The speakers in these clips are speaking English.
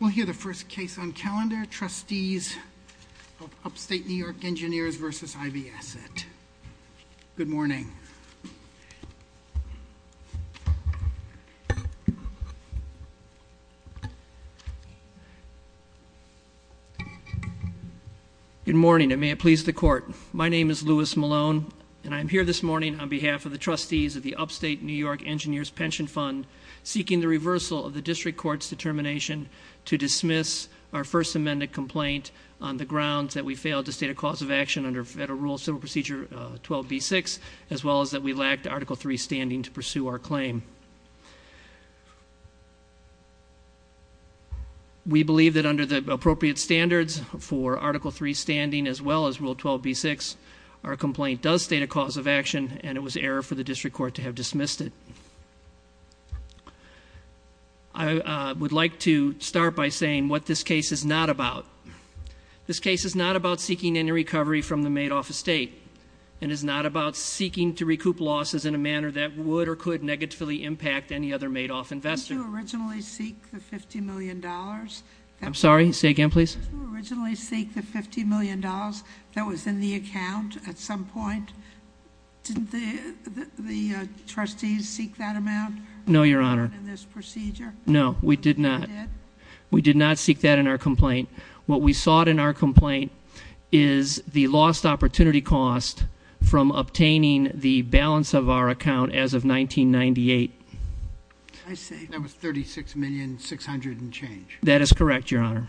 We'll hear the first case on calendar, Trustees of Upstate New York Engineers vs. Ivey Asset. Good morning. Good morning, and may it please the court. My name is Louis Malone, and I'm here this morning on behalf of the trustees of the Upstate New York Engineers Pension Fund, seeking the reversal of the district court's determination to dismiss our first amended complaint on the grounds that we failed to state a cause of action under Federal Rule Civil Procedure 12B6, as well as that we lacked Article 3 standing to pursue our claim. We believe that under the appropriate standards for Article 3 standing as well as Rule 12B6, our complaint does state a cause of action, and it was error for the district court to have dismissed it. I would like to start by saying what this case is not about. This case is not about seeking any recovery from the Madoff estate. It is not about seeking to recoup losses in a manner that would or could negatively impact any other Madoff investor. Did you originally seek the $50 million? I'm sorry, say again please. Did you originally seek the $50 million that was in the account at some point? Didn't the trustees seek that amount? No, your honor. In this procedure? No, we did not. We did not seek that in our complaint. What we sought in our complaint is the lost opportunity cost from obtaining the balance of our account as of 1998. I see. That was 36,600 and change. That is correct, your honor.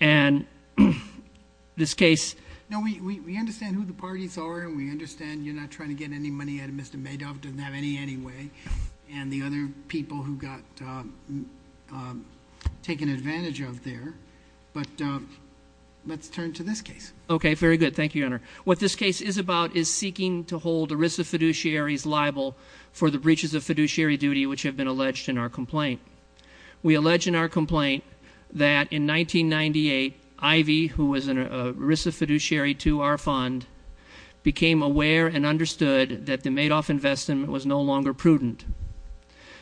And this case. Now we understand who the parties are and we understand you're not trying to get any money out of Mr. Madoff, doesn't have any anyway. And the other people who got taken advantage of there. But let's turn to this case. Okay, very good. Thank you, your honor. What this case is about is seeking to hold ERISA fiduciaries liable for the breaches of fiduciary duty which have been alleged in our complaint. We allege in our complaint that in 1998, Ivy, who was an ERISA fiduciary to our fund, became aware and understood that the Madoff investment was no longer prudent.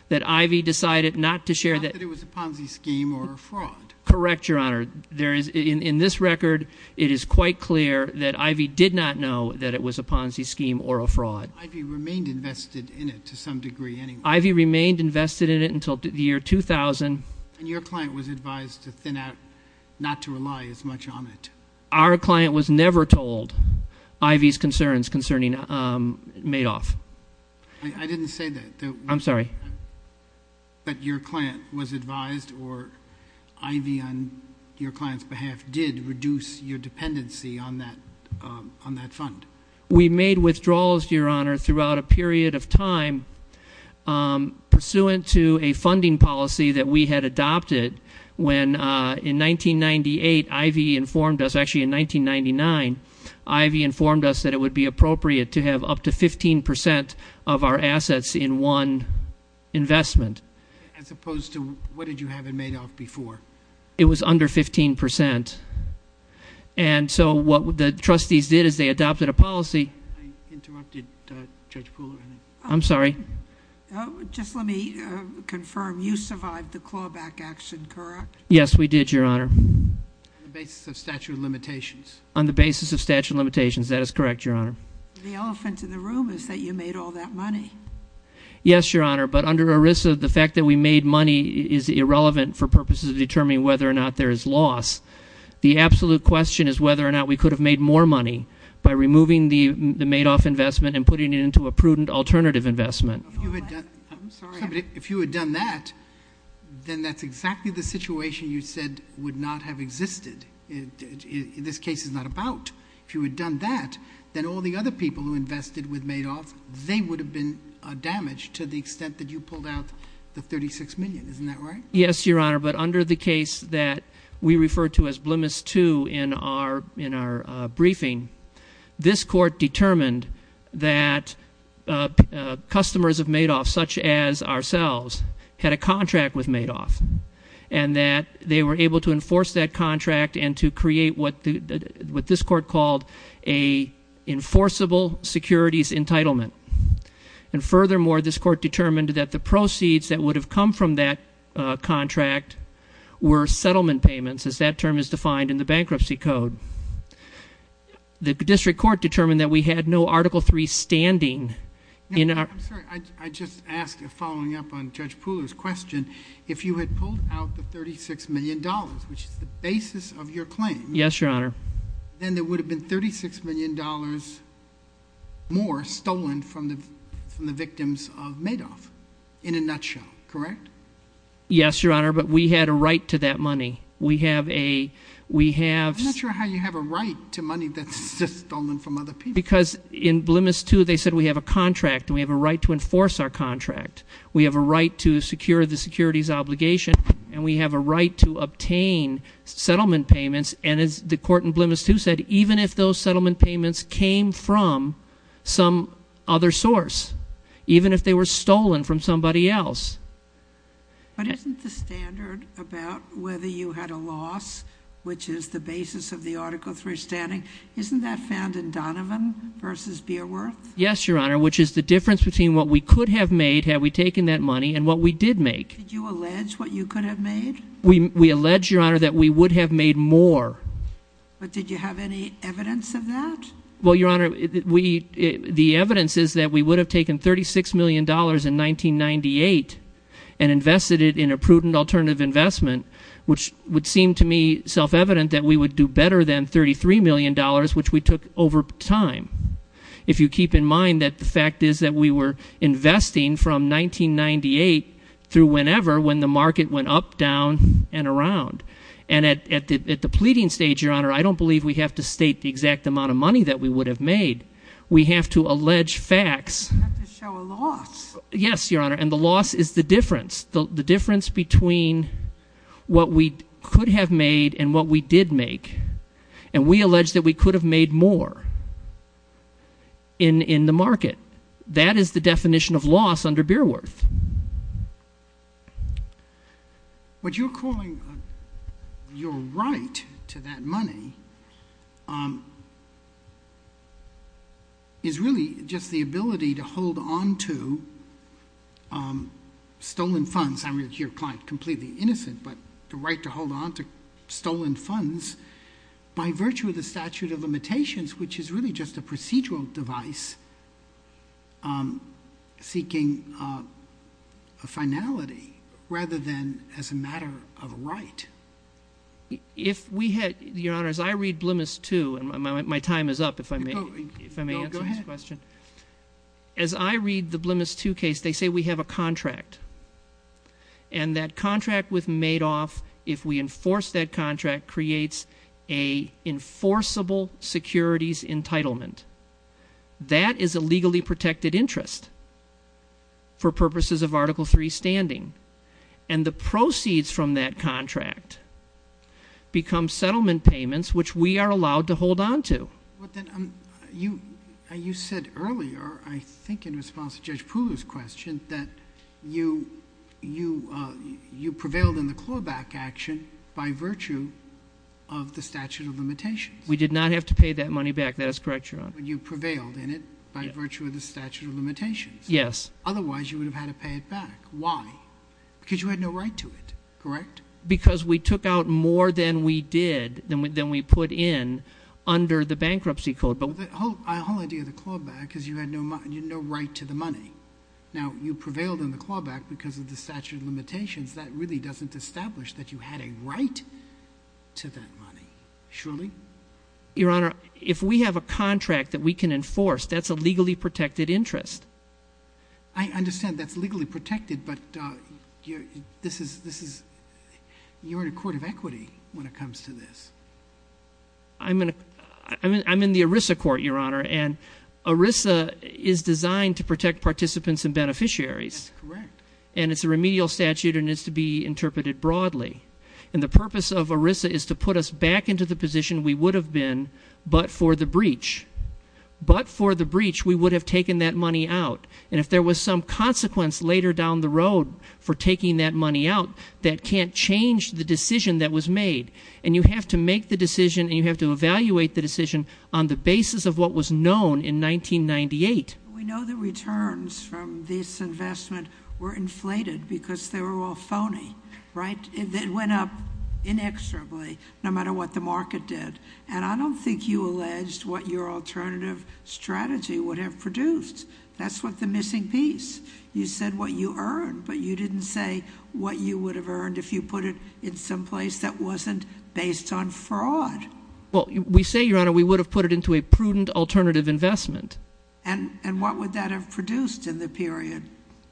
That Ivy decided not to share the- Not that it was a Ponzi scheme or a fraud. Correct, your honor. There is, in this record, it is quite clear that Ivy did not know that it was a Ponzi scheme or a fraud. Ivy remained invested in it to some degree anyway. Ivy remained invested in it until the year 2000. And your client was advised to thin out, not to rely as much on it. Our client was never told Ivy's concerns concerning Madoff. I didn't say that. I'm sorry. But your client was advised or Ivy on your client's behalf did reduce your dependency on that fund. We made withdrawals, your honor, throughout a period of time pursuant to a funding policy that we had adopted. When in 1998, Ivy informed us, actually in 1999, Ivy informed us that it would be appropriate to have up to 15% of our assets in one investment. As opposed to, what did you have in Madoff before? It was under 15%. And so what the trustees did is they adopted a policy. I interrupted Judge Poole. I'm sorry. Just let me confirm, you survived the clawback action, correct? Yes, we did, your honor. On the basis of statute of limitations. On the basis of statute of limitations, that is correct, your honor. The elephant in the room is that you made all that money. Yes, your honor, but under ERISA, the fact that we made money is irrelevant for purposes of determining whether or not there is loss. The absolute question is whether or not we could have made more money by removing the Madoff investment and putting it into a prudent alternative investment. If you had done that, then that's exactly the situation you said would not have existed. In this case, it's not about. If you had done that, then all the other people who invested with Madoff, they would have been damaged to the extent that you pulled out the 36 million, isn't that right? Yes, your honor, but under the case that we refer to as Blemis II in our briefing, this court determined that customers of Madoff, such as ourselves, had a contract with Madoff. And that they were able to enforce that contract and to create what this court called a enforceable securities entitlement. And furthermore, this court determined that the proceeds that would have come from that contract were settlement payments, as that term is defined in the bankruptcy code. The district court determined that we had no Article III standing. I'm sorry, I just asked, following up on Judge Pooler's question, if you had pulled out the $36 million, which is the basis of your claim. Yes, your honor. Then there would have been $36 million more stolen from the victims of Madoff, in a nutshell, correct? Yes, your honor, but we had a right to that money. We have a, we have- I'm not sure how you have a right to money that's just stolen from other people. Because in Blemis II, they said we have a contract, and we have a right to enforce our contract. We have a right to secure the securities obligation, and we have a right to obtain settlement payments. And as the court in Blemis II said, even if those settlement payments came from some other source. Even if they were stolen from somebody else. But isn't the standard about whether you had a loss, which is the basis of the Article III standing, isn't that found in Donovan versus Beerworth? Yes, your honor, which is the difference between what we could have made had we taken that money and what we did make. Did you allege what you could have made? We allege, your honor, that we would have made more. But did you have any evidence of that? Well, your honor, the evidence is that we would have taken $36 million in 1998 and invested it in a prudent alternative investment, which would seem to me self-evident that we would do better than $33 million, which we took over time. If you keep in mind that the fact is that we were investing from 1998 through whenever, when the market went up, down, and around. And at the pleading stage, your honor, I don't believe we have to state the exact amount of money that we would have made. We have to allege facts. You have to show a loss. Yes, your honor, and the loss is the difference. The difference between what we could have made and what we did make. And we allege that we could have made more in the market. That is the definition of loss under Beerworth. What you're calling your right to that money is really just the ability to hold on to stolen funds. I mean, you're completely innocent, but the right to hold on to stolen funds by virtue of the statute of limitations, which is really just a procedural device seeking a finality. Rather than as a matter of right. If we had, your honor, as I read Blemis II, and my time is up, if I may answer this question. As I read the Blemis II case, they say we have a contract. And that contract with Madoff, if we enforce that contract, creates a enforceable securities entitlement. That is a legally protected interest for purposes of article three standing. And the proceeds from that contract become settlement payments which we are allowed to hold on to. But then, you said earlier, I think in response to Judge Poole's question, that you prevailed in the clawback action by virtue of the statute of limitations. We did not have to pay that money back. That is correct, your honor. You prevailed in it by virtue of the statute of limitations. Yes. Otherwise, you would have had to pay it back. Why? Because you had no right to it, correct? Because we took out more than we did, than we put in under the bankruptcy code. But the whole idea of the clawback is you had no right to the money. Now, you prevailed in the clawback because of the statute of limitations. That really doesn't establish that you had a right to that money. Surely? Your honor, if we have a contract that we can enforce, that's a legally protected interest. I understand that's legally protected, but you're in a court of equity when it comes to this. I'm in the ERISA court, your honor, and ERISA is designed to protect participants and beneficiaries. That's correct. And it's a remedial statute and needs to be interpreted broadly. And the purpose of ERISA is to put us back into the position we would have been, but for the breach. But for the breach, we would have taken that money out. And if there was some consequence later down the road for taking that money out, that can't change the decision that was made. And you have to make the decision and you have to evaluate the decision on the basis of what was known in 1998. We know the returns from this investment were inflated because they were all phony, right? It went up inexorably, no matter what the market did. And I don't think you alleged what your alternative strategy would have produced. That's what the missing piece. You said what you earned, but you didn't say what you would have earned if you put it in some place that wasn't based on fraud. Well, we say, your honor, we would have put it into a prudent alternative investment. And what would that have produced in the period?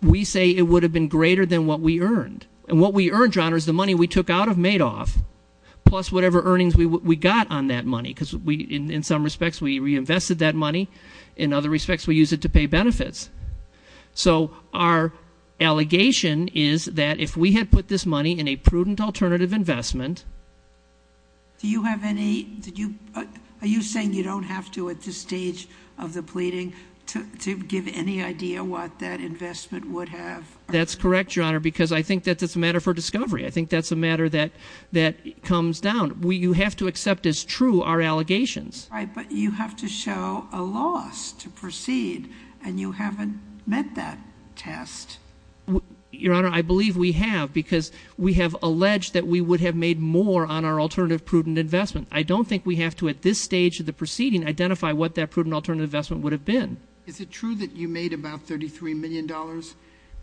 We say it would have been greater than what we earned. And what we earned, your honor, is the money we took out of Madoff, plus whatever earnings we got on that money. because in some respects, we reinvested that money. In other respects, we used it to pay benefits. So our allegation is that if we had put this money in a prudent alternative investment. Do you have any, are you saying you don't have to at this stage of the pleading to give any idea what that investment would have? That's correct, your honor, because I think that's a matter for discovery. I think that's a matter that comes down. You have to accept as true our allegations. Right, but you have to show a loss to proceed, and you haven't met that test. Your honor, I believe we have, because we have alleged that we would have made more on our alternative prudent investment. I don't think we have to, at this stage of the proceeding, identify what that prudent alternative investment would have been. Is it true that you made about $33 million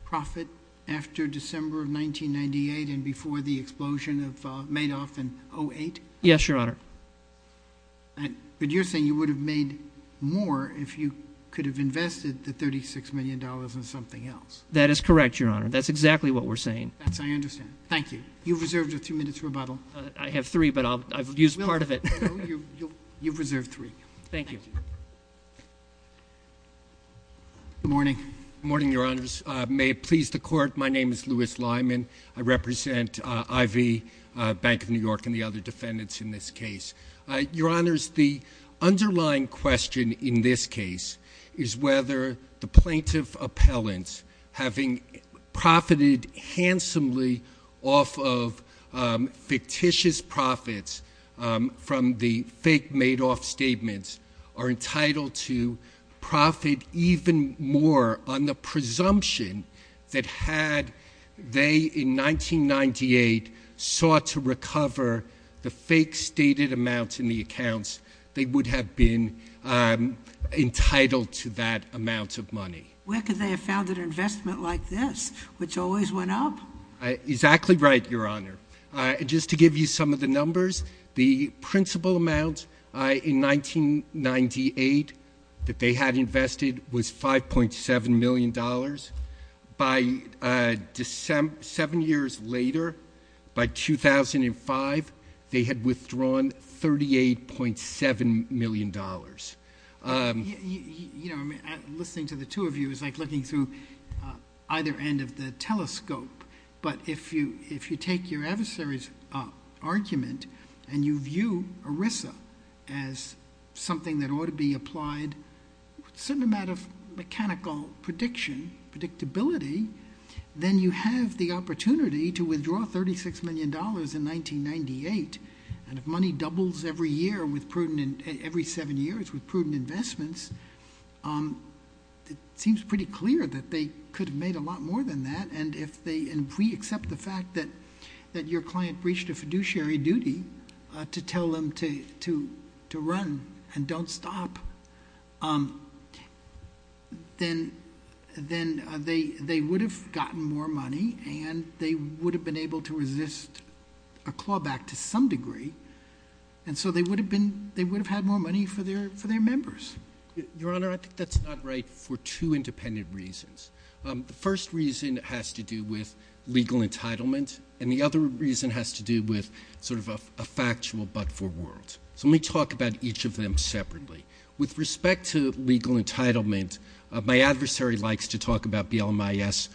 profit after December of 1998 and before the explosion of Madoff in 08? Yes, your honor. But you're saying you would have made more if you could have invested the $36 million in something else. That is correct, your honor. That's exactly what we're saying. That's, I understand. Thank you. You've reserved a two minute rebuttal. I have three, but I've used part of it. You've reserved three. Thank you. Good morning. Morning, your honors. May it please the court, my name is Louis Lyman. I represent IV Bank of New York and the other defendants in this case. Your honors, the underlying question in this case is whether the plaintiff appellant having profited handsomely off of fictitious profits from the fake Madoff statements are entitled to profit even more on the presumption that had they in 1998 sought to recover the fake stated amounts in the accounts, they would have been entitled to that amount of money. Where could they have found an investment like this, which always went up? Exactly right, your honor. Just to give you some of the numbers, the principal amount in 1998 that they had invested was $5.7 million. By seven years later, by 2005, they had withdrawn $38.7 million. You know, listening to the two of you is like looking through either end of the telescope. But if you take your adversary's argument and you view ERISA as something that ought to be applied certain amount of mechanical prediction, predictability, then you have the opportunity to withdraw $36 million in 1998. And if money doubles every seven years with prudent investments, it seems pretty clear that they could have made a lot more than that. And if we accept the fact that your client breached a fiduciary duty to tell them to run and don't stop, then they would have gotten more money and they would have been able to resist a clawback to some degree. And so they would have had more money for their members. Your honor, I think that's not right for two independent reasons. The first reason has to do with legal entitlement, and the other reason has to do with sort of a factual but-for-world. So let me talk about each of them separately. With respect to legal entitlement, my adversary likes to talk about BLMIS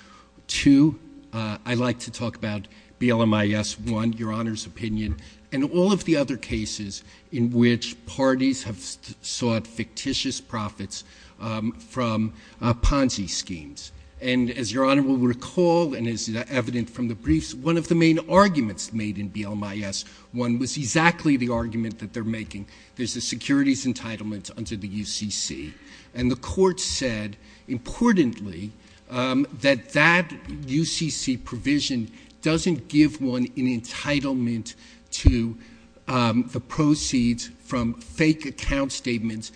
II. I like to talk about BLMIS I, your honor's opinion, and all of the other cases in which parties have sought fictitious profits from Ponzi schemes. And as your honor will recall, and as evident from the briefs, one of the main arguments made in BLMIS I was exactly the argument that they're making. There's a securities entitlement under the UCC. And the court said, importantly, that that UCC provision doesn't give one an entitlement to the proceeds from fake account statements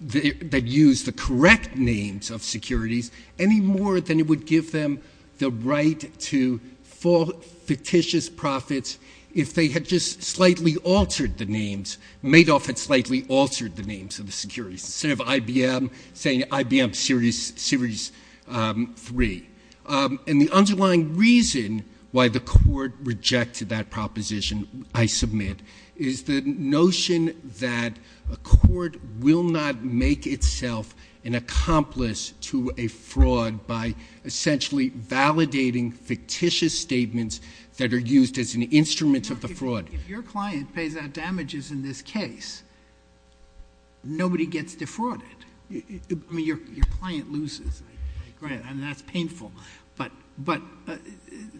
that use the correct names of securities any more than it would give them the right to fall fictitious profits if they had just slightly altered the names. Madoff had slightly altered the names of the securities. Instead of IBM saying IBM series three. And the underlying reason why the court rejected that proposition, I submit, is the notion that a court will not make itself an accomplice to a fraud by essentially validating fictitious statements that are used as an instrument of the fraud. If your client pays out damages in this case, nobody gets defrauded. I mean, your client loses, and that's painful, but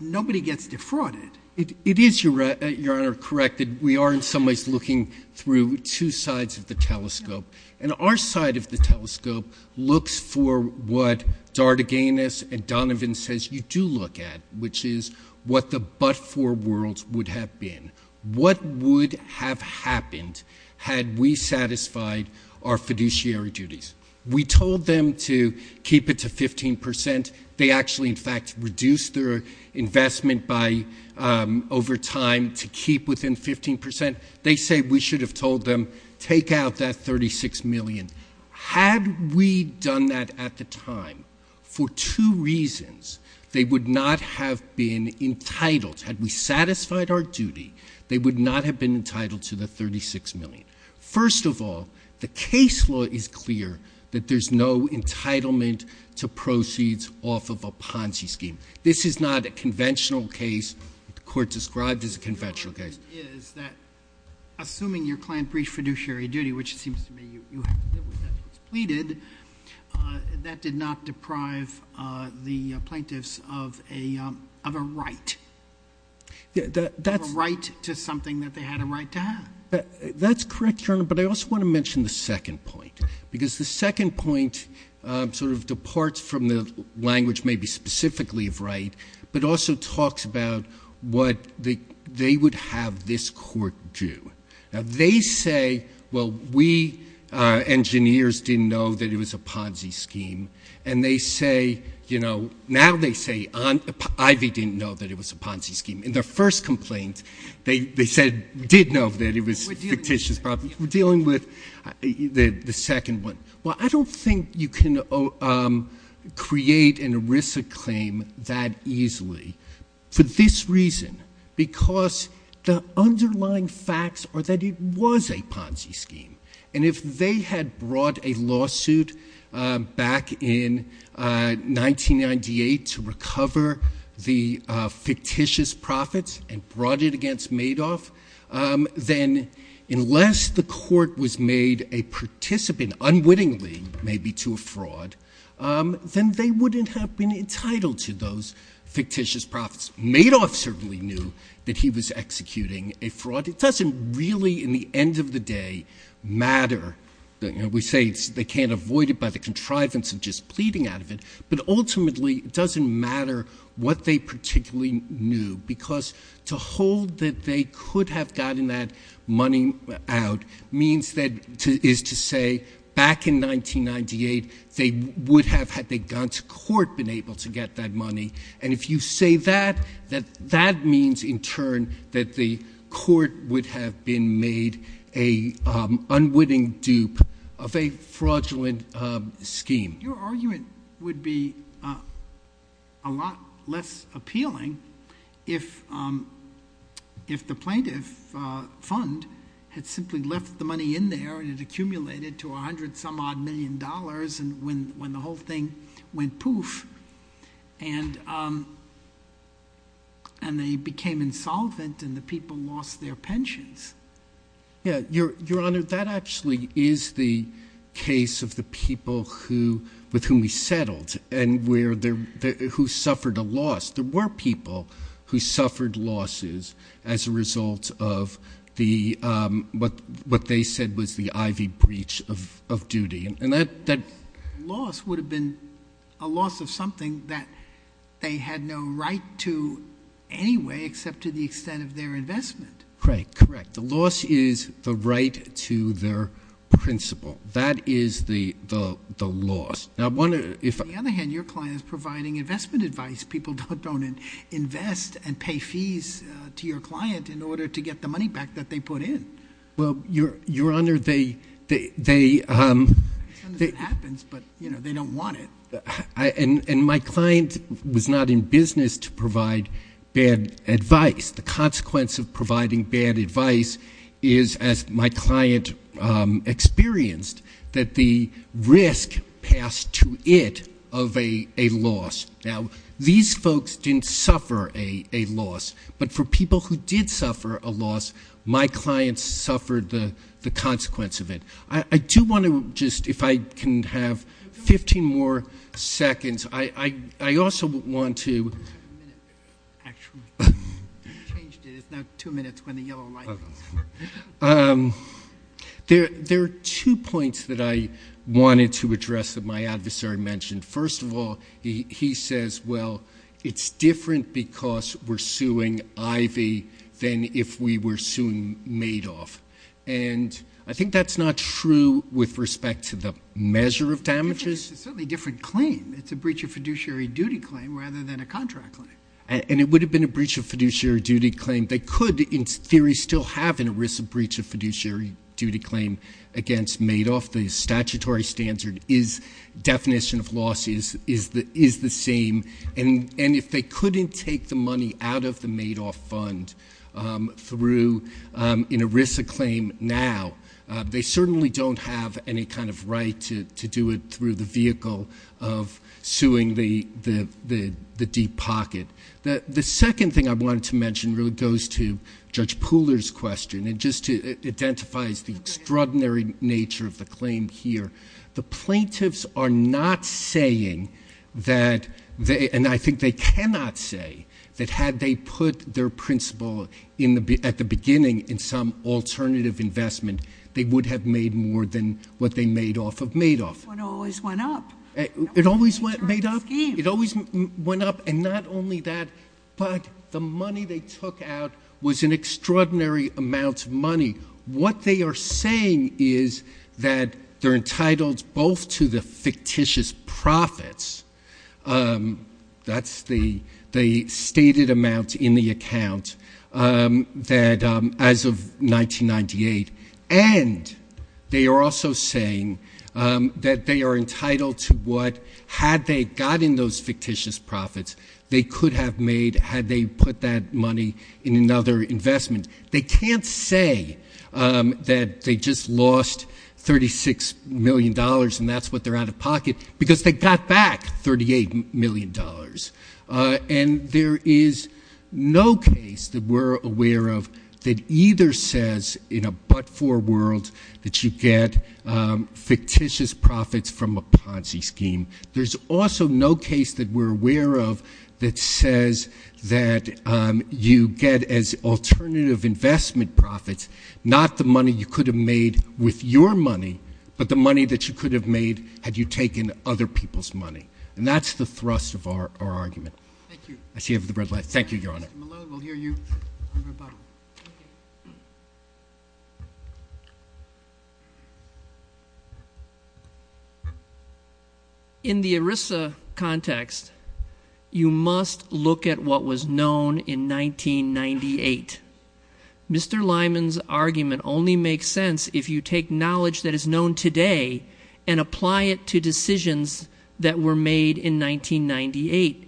nobody gets defrauded. It is, Your Honor, correct that we are in some ways looking through two sides of the telescope. And our side of the telescope looks for what Dardaganis and Donovan says you do look at, which is what the but-for world would have been. What would have happened had we satisfied our fiduciary duties? We told them to keep it to 15%. They actually, in fact, reduced their investment over time to keep within 15%. They say we should have told them, take out that 36 million. Had we done that at the time, for two reasons, they would not have been entitled. Had we satisfied our duty, they would not have been entitled to the 36 million. First of all, the case law is clear that there's no entitlement to proceeds off of a Ponzi scheme. This is not a conventional case, the court described this as a conventional case. The point is that assuming your client breached fiduciary duty, which it seems to me you have to live with after it's pleaded, that did not deprive the plaintiffs of a right. A right to something that they had a right to have. That's correct, Your Honor, but I also want to mention the second point. Because the second point sort of departs from the language maybe specifically of right, but also talks about what they would have this court do. Now they say, well, we engineers didn't know that it was a Ponzi scheme. And they say, now they say, Ivy didn't know that it was a Ponzi scheme. In their first complaint, they said, we did know that it was a fictitious property. We're dealing with the second one. Well, I don't think you can create an ERISA claim that easily. For this reason, because the underlying facts are that it was a Ponzi scheme. And if they had brought a lawsuit back in 1998 to the fictitious profits and brought it against Madoff. Then unless the court was made a participant unwittingly, maybe to a fraud. Then they wouldn't have been entitled to those fictitious profits. Madoff certainly knew that he was executing a fraud. It doesn't really, in the end of the day, matter. We say they can't avoid it by the contrivance of just pleading out of it. But ultimately, it doesn't matter what they particularly knew. Because to hold that they could have gotten that money out means that, is to say, back in 1998, they would have, had they gone to court, been able to get that money. And if you say that, that means in turn that the court would have been made a unwitting dupe of a fraudulent scheme. Your argument would be a lot less appealing if the plaintiff fund had simply left the money in there and it accumulated to a hundred some odd million dollars when the whole thing went poof. And they became insolvent and the people lost their pensions. Yeah, Your Honor, that actually is the case of the people with whom we settled and who suffered a loss. There were people who suffered losses as a result of what they said was the Ivy breach of duty. And that loss would have been a loss of something that they had no right to anyway except to the extent of their investment. Correct, correct. The loss is the right to their principle. That is the loss. Now, I wonder if- On the other hand, your client is providing investment advice. People don't invest and pay fees to your client in order to get the money back that they put in. Well, Your Honor, they- Sometimes it happens, but they don't want it. And my client was not in business to provide bad advice. The consequence of providing bad advice is, as my client experienced, that the risk passed to it of a loss. Now, these folks didn't suffer a loss. But for people who did suffer a loss, my client suffered the consequence of it. I do want to just, if I can have 15 more seconds, I also want to- You changed it. It's now two minutes when the yellow light goes on. There are two points that I wanted to address that my adversary mentioned. First of all, he says, well, it's different because we're suing Ivy than if we were suing Madoff. And I think that's not true with respect to the measure of damages. It's certainly a different claim. It's a breach of fiduciary duty claim rather than a contract claim. And it would have been a breach of fiduciary duty claim. They could, in theory, still have an ERISA breach of fiduciary duty claim against Madoff. The statutory standard definition of loss is the same. And if they couldn't take the money out of the Madoff fund through an ERISA claim now, they certainly don't have any kind of right to do it through the vehicle of suing the deep pocket. The second thing I wanted to mention really goes to Judge Pooler's question. It just identifies the extraordinary nature of the claim here. The plaintiffs are not saying that, and I think they cannot say, that had they put their principle at the beginning in some alternative investment, they would have made more than what they made off of Madoff. It always went up. It always went up. It always went up. And not only that, but the money they took out was an extraordinary amount of money. What they are saying is that they're entitled both to the fictitious profits. That's the stated amount in the account that as of 1998. And they are also saying that they are entitled to what, had they gotten those fictitious profits, they could have made, had they put that money in another investment. They can't say that they just lost $36 million and that's what they're out of pocket because they got back $38 million. And there is no case that we're aware of that either says in a but for world that you get fictitious profits from a Ponzi scheme. There's also no case that we're aware of that says that you get as alternative investment profits not the money you could have made with your money, but the money that you could have made had you taken other people's money. And that's the thrust of our argument. Thank you. I see you have the red light. Thank you, Your Honor. Mr. Malone, we'll hear you on rebuttal. Thank you. In the ERISA context, you must look at what was known in 1998. Mr. Lyman's argument only makes sense if you take knowledge that is known today and apply it to decisions that were made in 1998,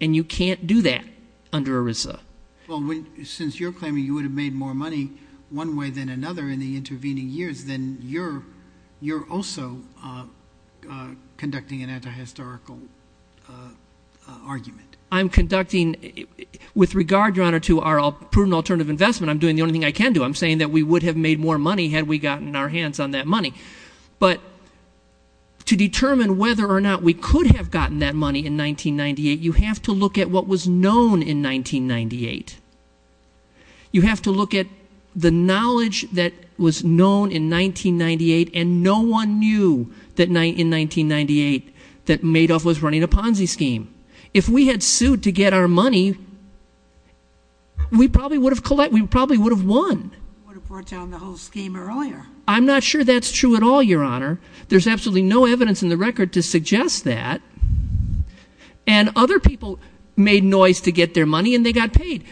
and you can't do that under ERISA. Well, since you're claiming you would have made more money one way than another in the intervening years, then you're also conducting an anti-historical argument. I'm conducting, with regard, Your Honor, to our prudent alternative investment, I'm doing the only thing I can do. I'm saying that we would have made more money had we gotten our hands on that money. But to determine whether or not we could have gotten that money in 1998, you have to look at what was known in 1998. You have to look at the knowledge that was known in 1998, and no one knew in 1998 that Madoff was running a Ponzi scheme. If we had sued to get our money, we probably would have won. Would have brought down the whole scheme earlier. I'm not sure that's true at all, Your Honor. There's absolutely no evidence in the record to suggest that. And other people made noise to get their money, and they got paid.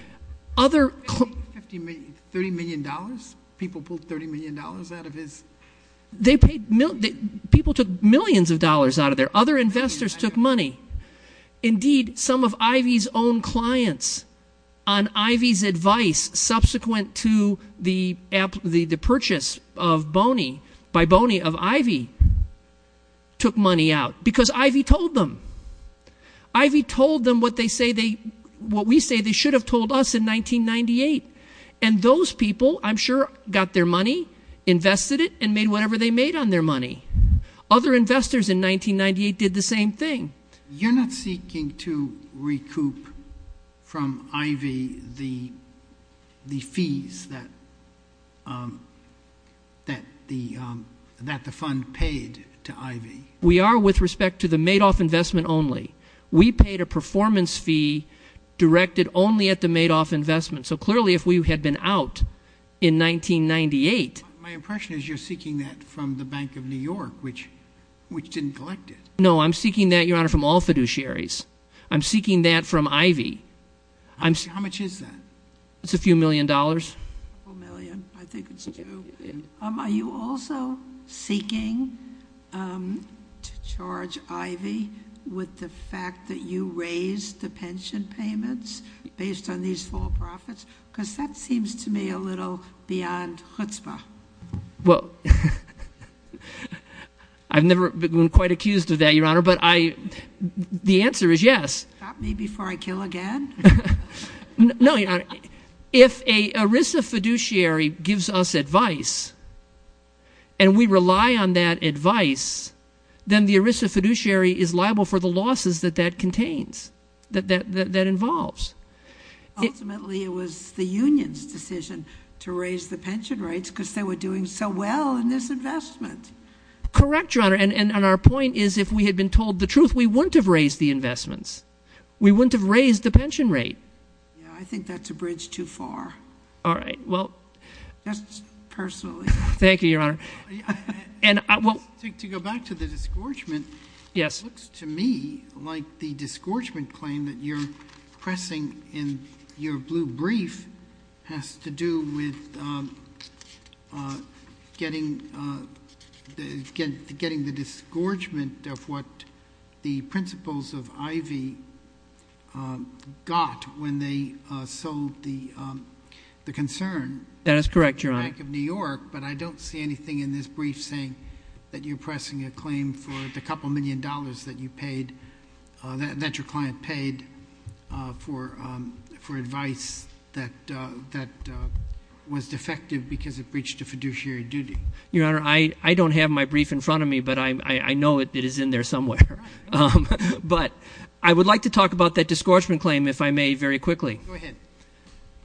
Other- $30 million? People pulled $30 million out of his- They paid, people took millions of dollars out of there. Other investors took money. Indeed, some of Ivy's own clients, on Ivy's advice, subsequent to the purchase of Boney, by Boney of Ivy, took money out, because Ivy told them. Ivy told them what they say they, what we say they should have told us in 1998. And those people, I'm sure, got their money, invested it, and made whatever they made on their money. Other investors in 1998 did the same thing. You're not seeking to recoup from Ivy the fees that the fund paid to Ivy. We are with respect to the Madoff investment only. We paid a performance fee directed only at the Madoff investment. So clearly, if we had been out in 1998- Which didn't collect it. No, I'm seeking that, Your Honor, from all fiduciaries. I'm seeking that from Ivy. How much is that? It's a few million dollars. A million, I think it's two. Are you also seeking to charge Ivy with the fact that you raised the pension payments based on these for-profits? Because that seems to me a little beyond chutzpah. Well, I've never been quite accused of that, Your Honor, but I, the answer is yes. Stop me before I kill again? No, Your Honor. If a ERISA fiduciary gives us advice, and we rely on that advice, then the ERISA fiduciary is liable for the losses that that contains, that that involves. Ultimately, it was the union's decision to raise the pension rates because they were doing so well in this investment. Correct, Your Honor, and our point is if we had been told the truth, we wouldn't have raised the investments. We wouldn't have raised the pension rate. Yeah, I think that's a bridge too far. All right, well- Just personally. Thank you, Your Honor. To go back to the disgorgement, it looks to me like the disgorgement claim that you're pressing in your blue brief has to do with getting the disgorgement of what the principals of Ivy got when they sold the concern. That is correct, Your Honor. Bank of New York, but I don't see anything in this brief saying that you're pressing a claim for the couple million dollars that you paid, that your client paid for advice that was defective because it breached a fiduciary duty. Your Honor, I don't have my brief in front of me, but I know it is in there somewhere. But I would like to talk about that disgorgement claim, if I may, very quickly. Go ahead.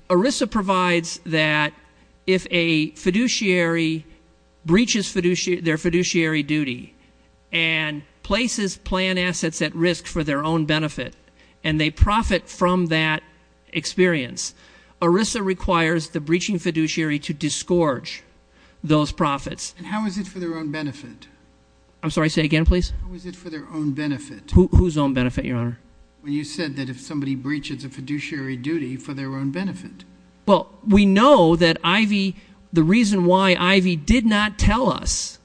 ERISA provides that if a fiduciary breaches their fiduciary duty, and places planned assets at risk for their own benefit, and they profit from that experience. ERISA requires the breaching fiduciary to disgorge those profits. And how is it for their own benefit? I'm sorry, say again, please? How is it for their own benefit? Whose own benefit, Your Honor? When you said that if somebody breaches a fiduciary duty for their own benefit. Well, we know that Ivy, the reason why Ivy did not tell us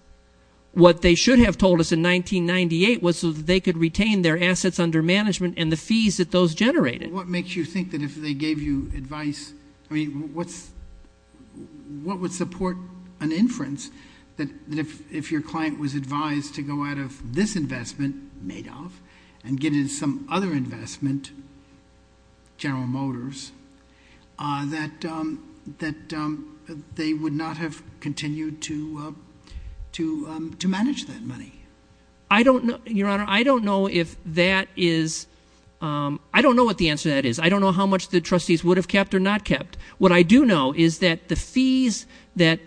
what they should have told us in 1998 was so that they could retain their assets under management and the fees that those generated. What makes you think that if they gave you advice, I mean, what would support an inference that if your client was advised to go out of this investment, made off, and get in some other investment, General Motors, that they would not have continued to manage that money? I don't know, Your Honor, I don't know if that is, I don't know what the answer to that is. I don't know how much the trustees would have kept or not kept. What I do know is that the fees that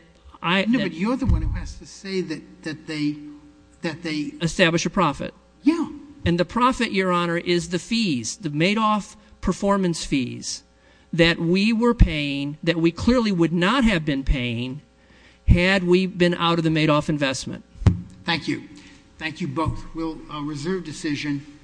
I- But you're the one who has to say that they- Establish a profit. Yeah. And the profit, Your Honor, is the fees, the made off performance fees that we were paying, that we clearly would not have been paying had we been out of the made off investment. Thank you. Thank you both. We'll reserve decision.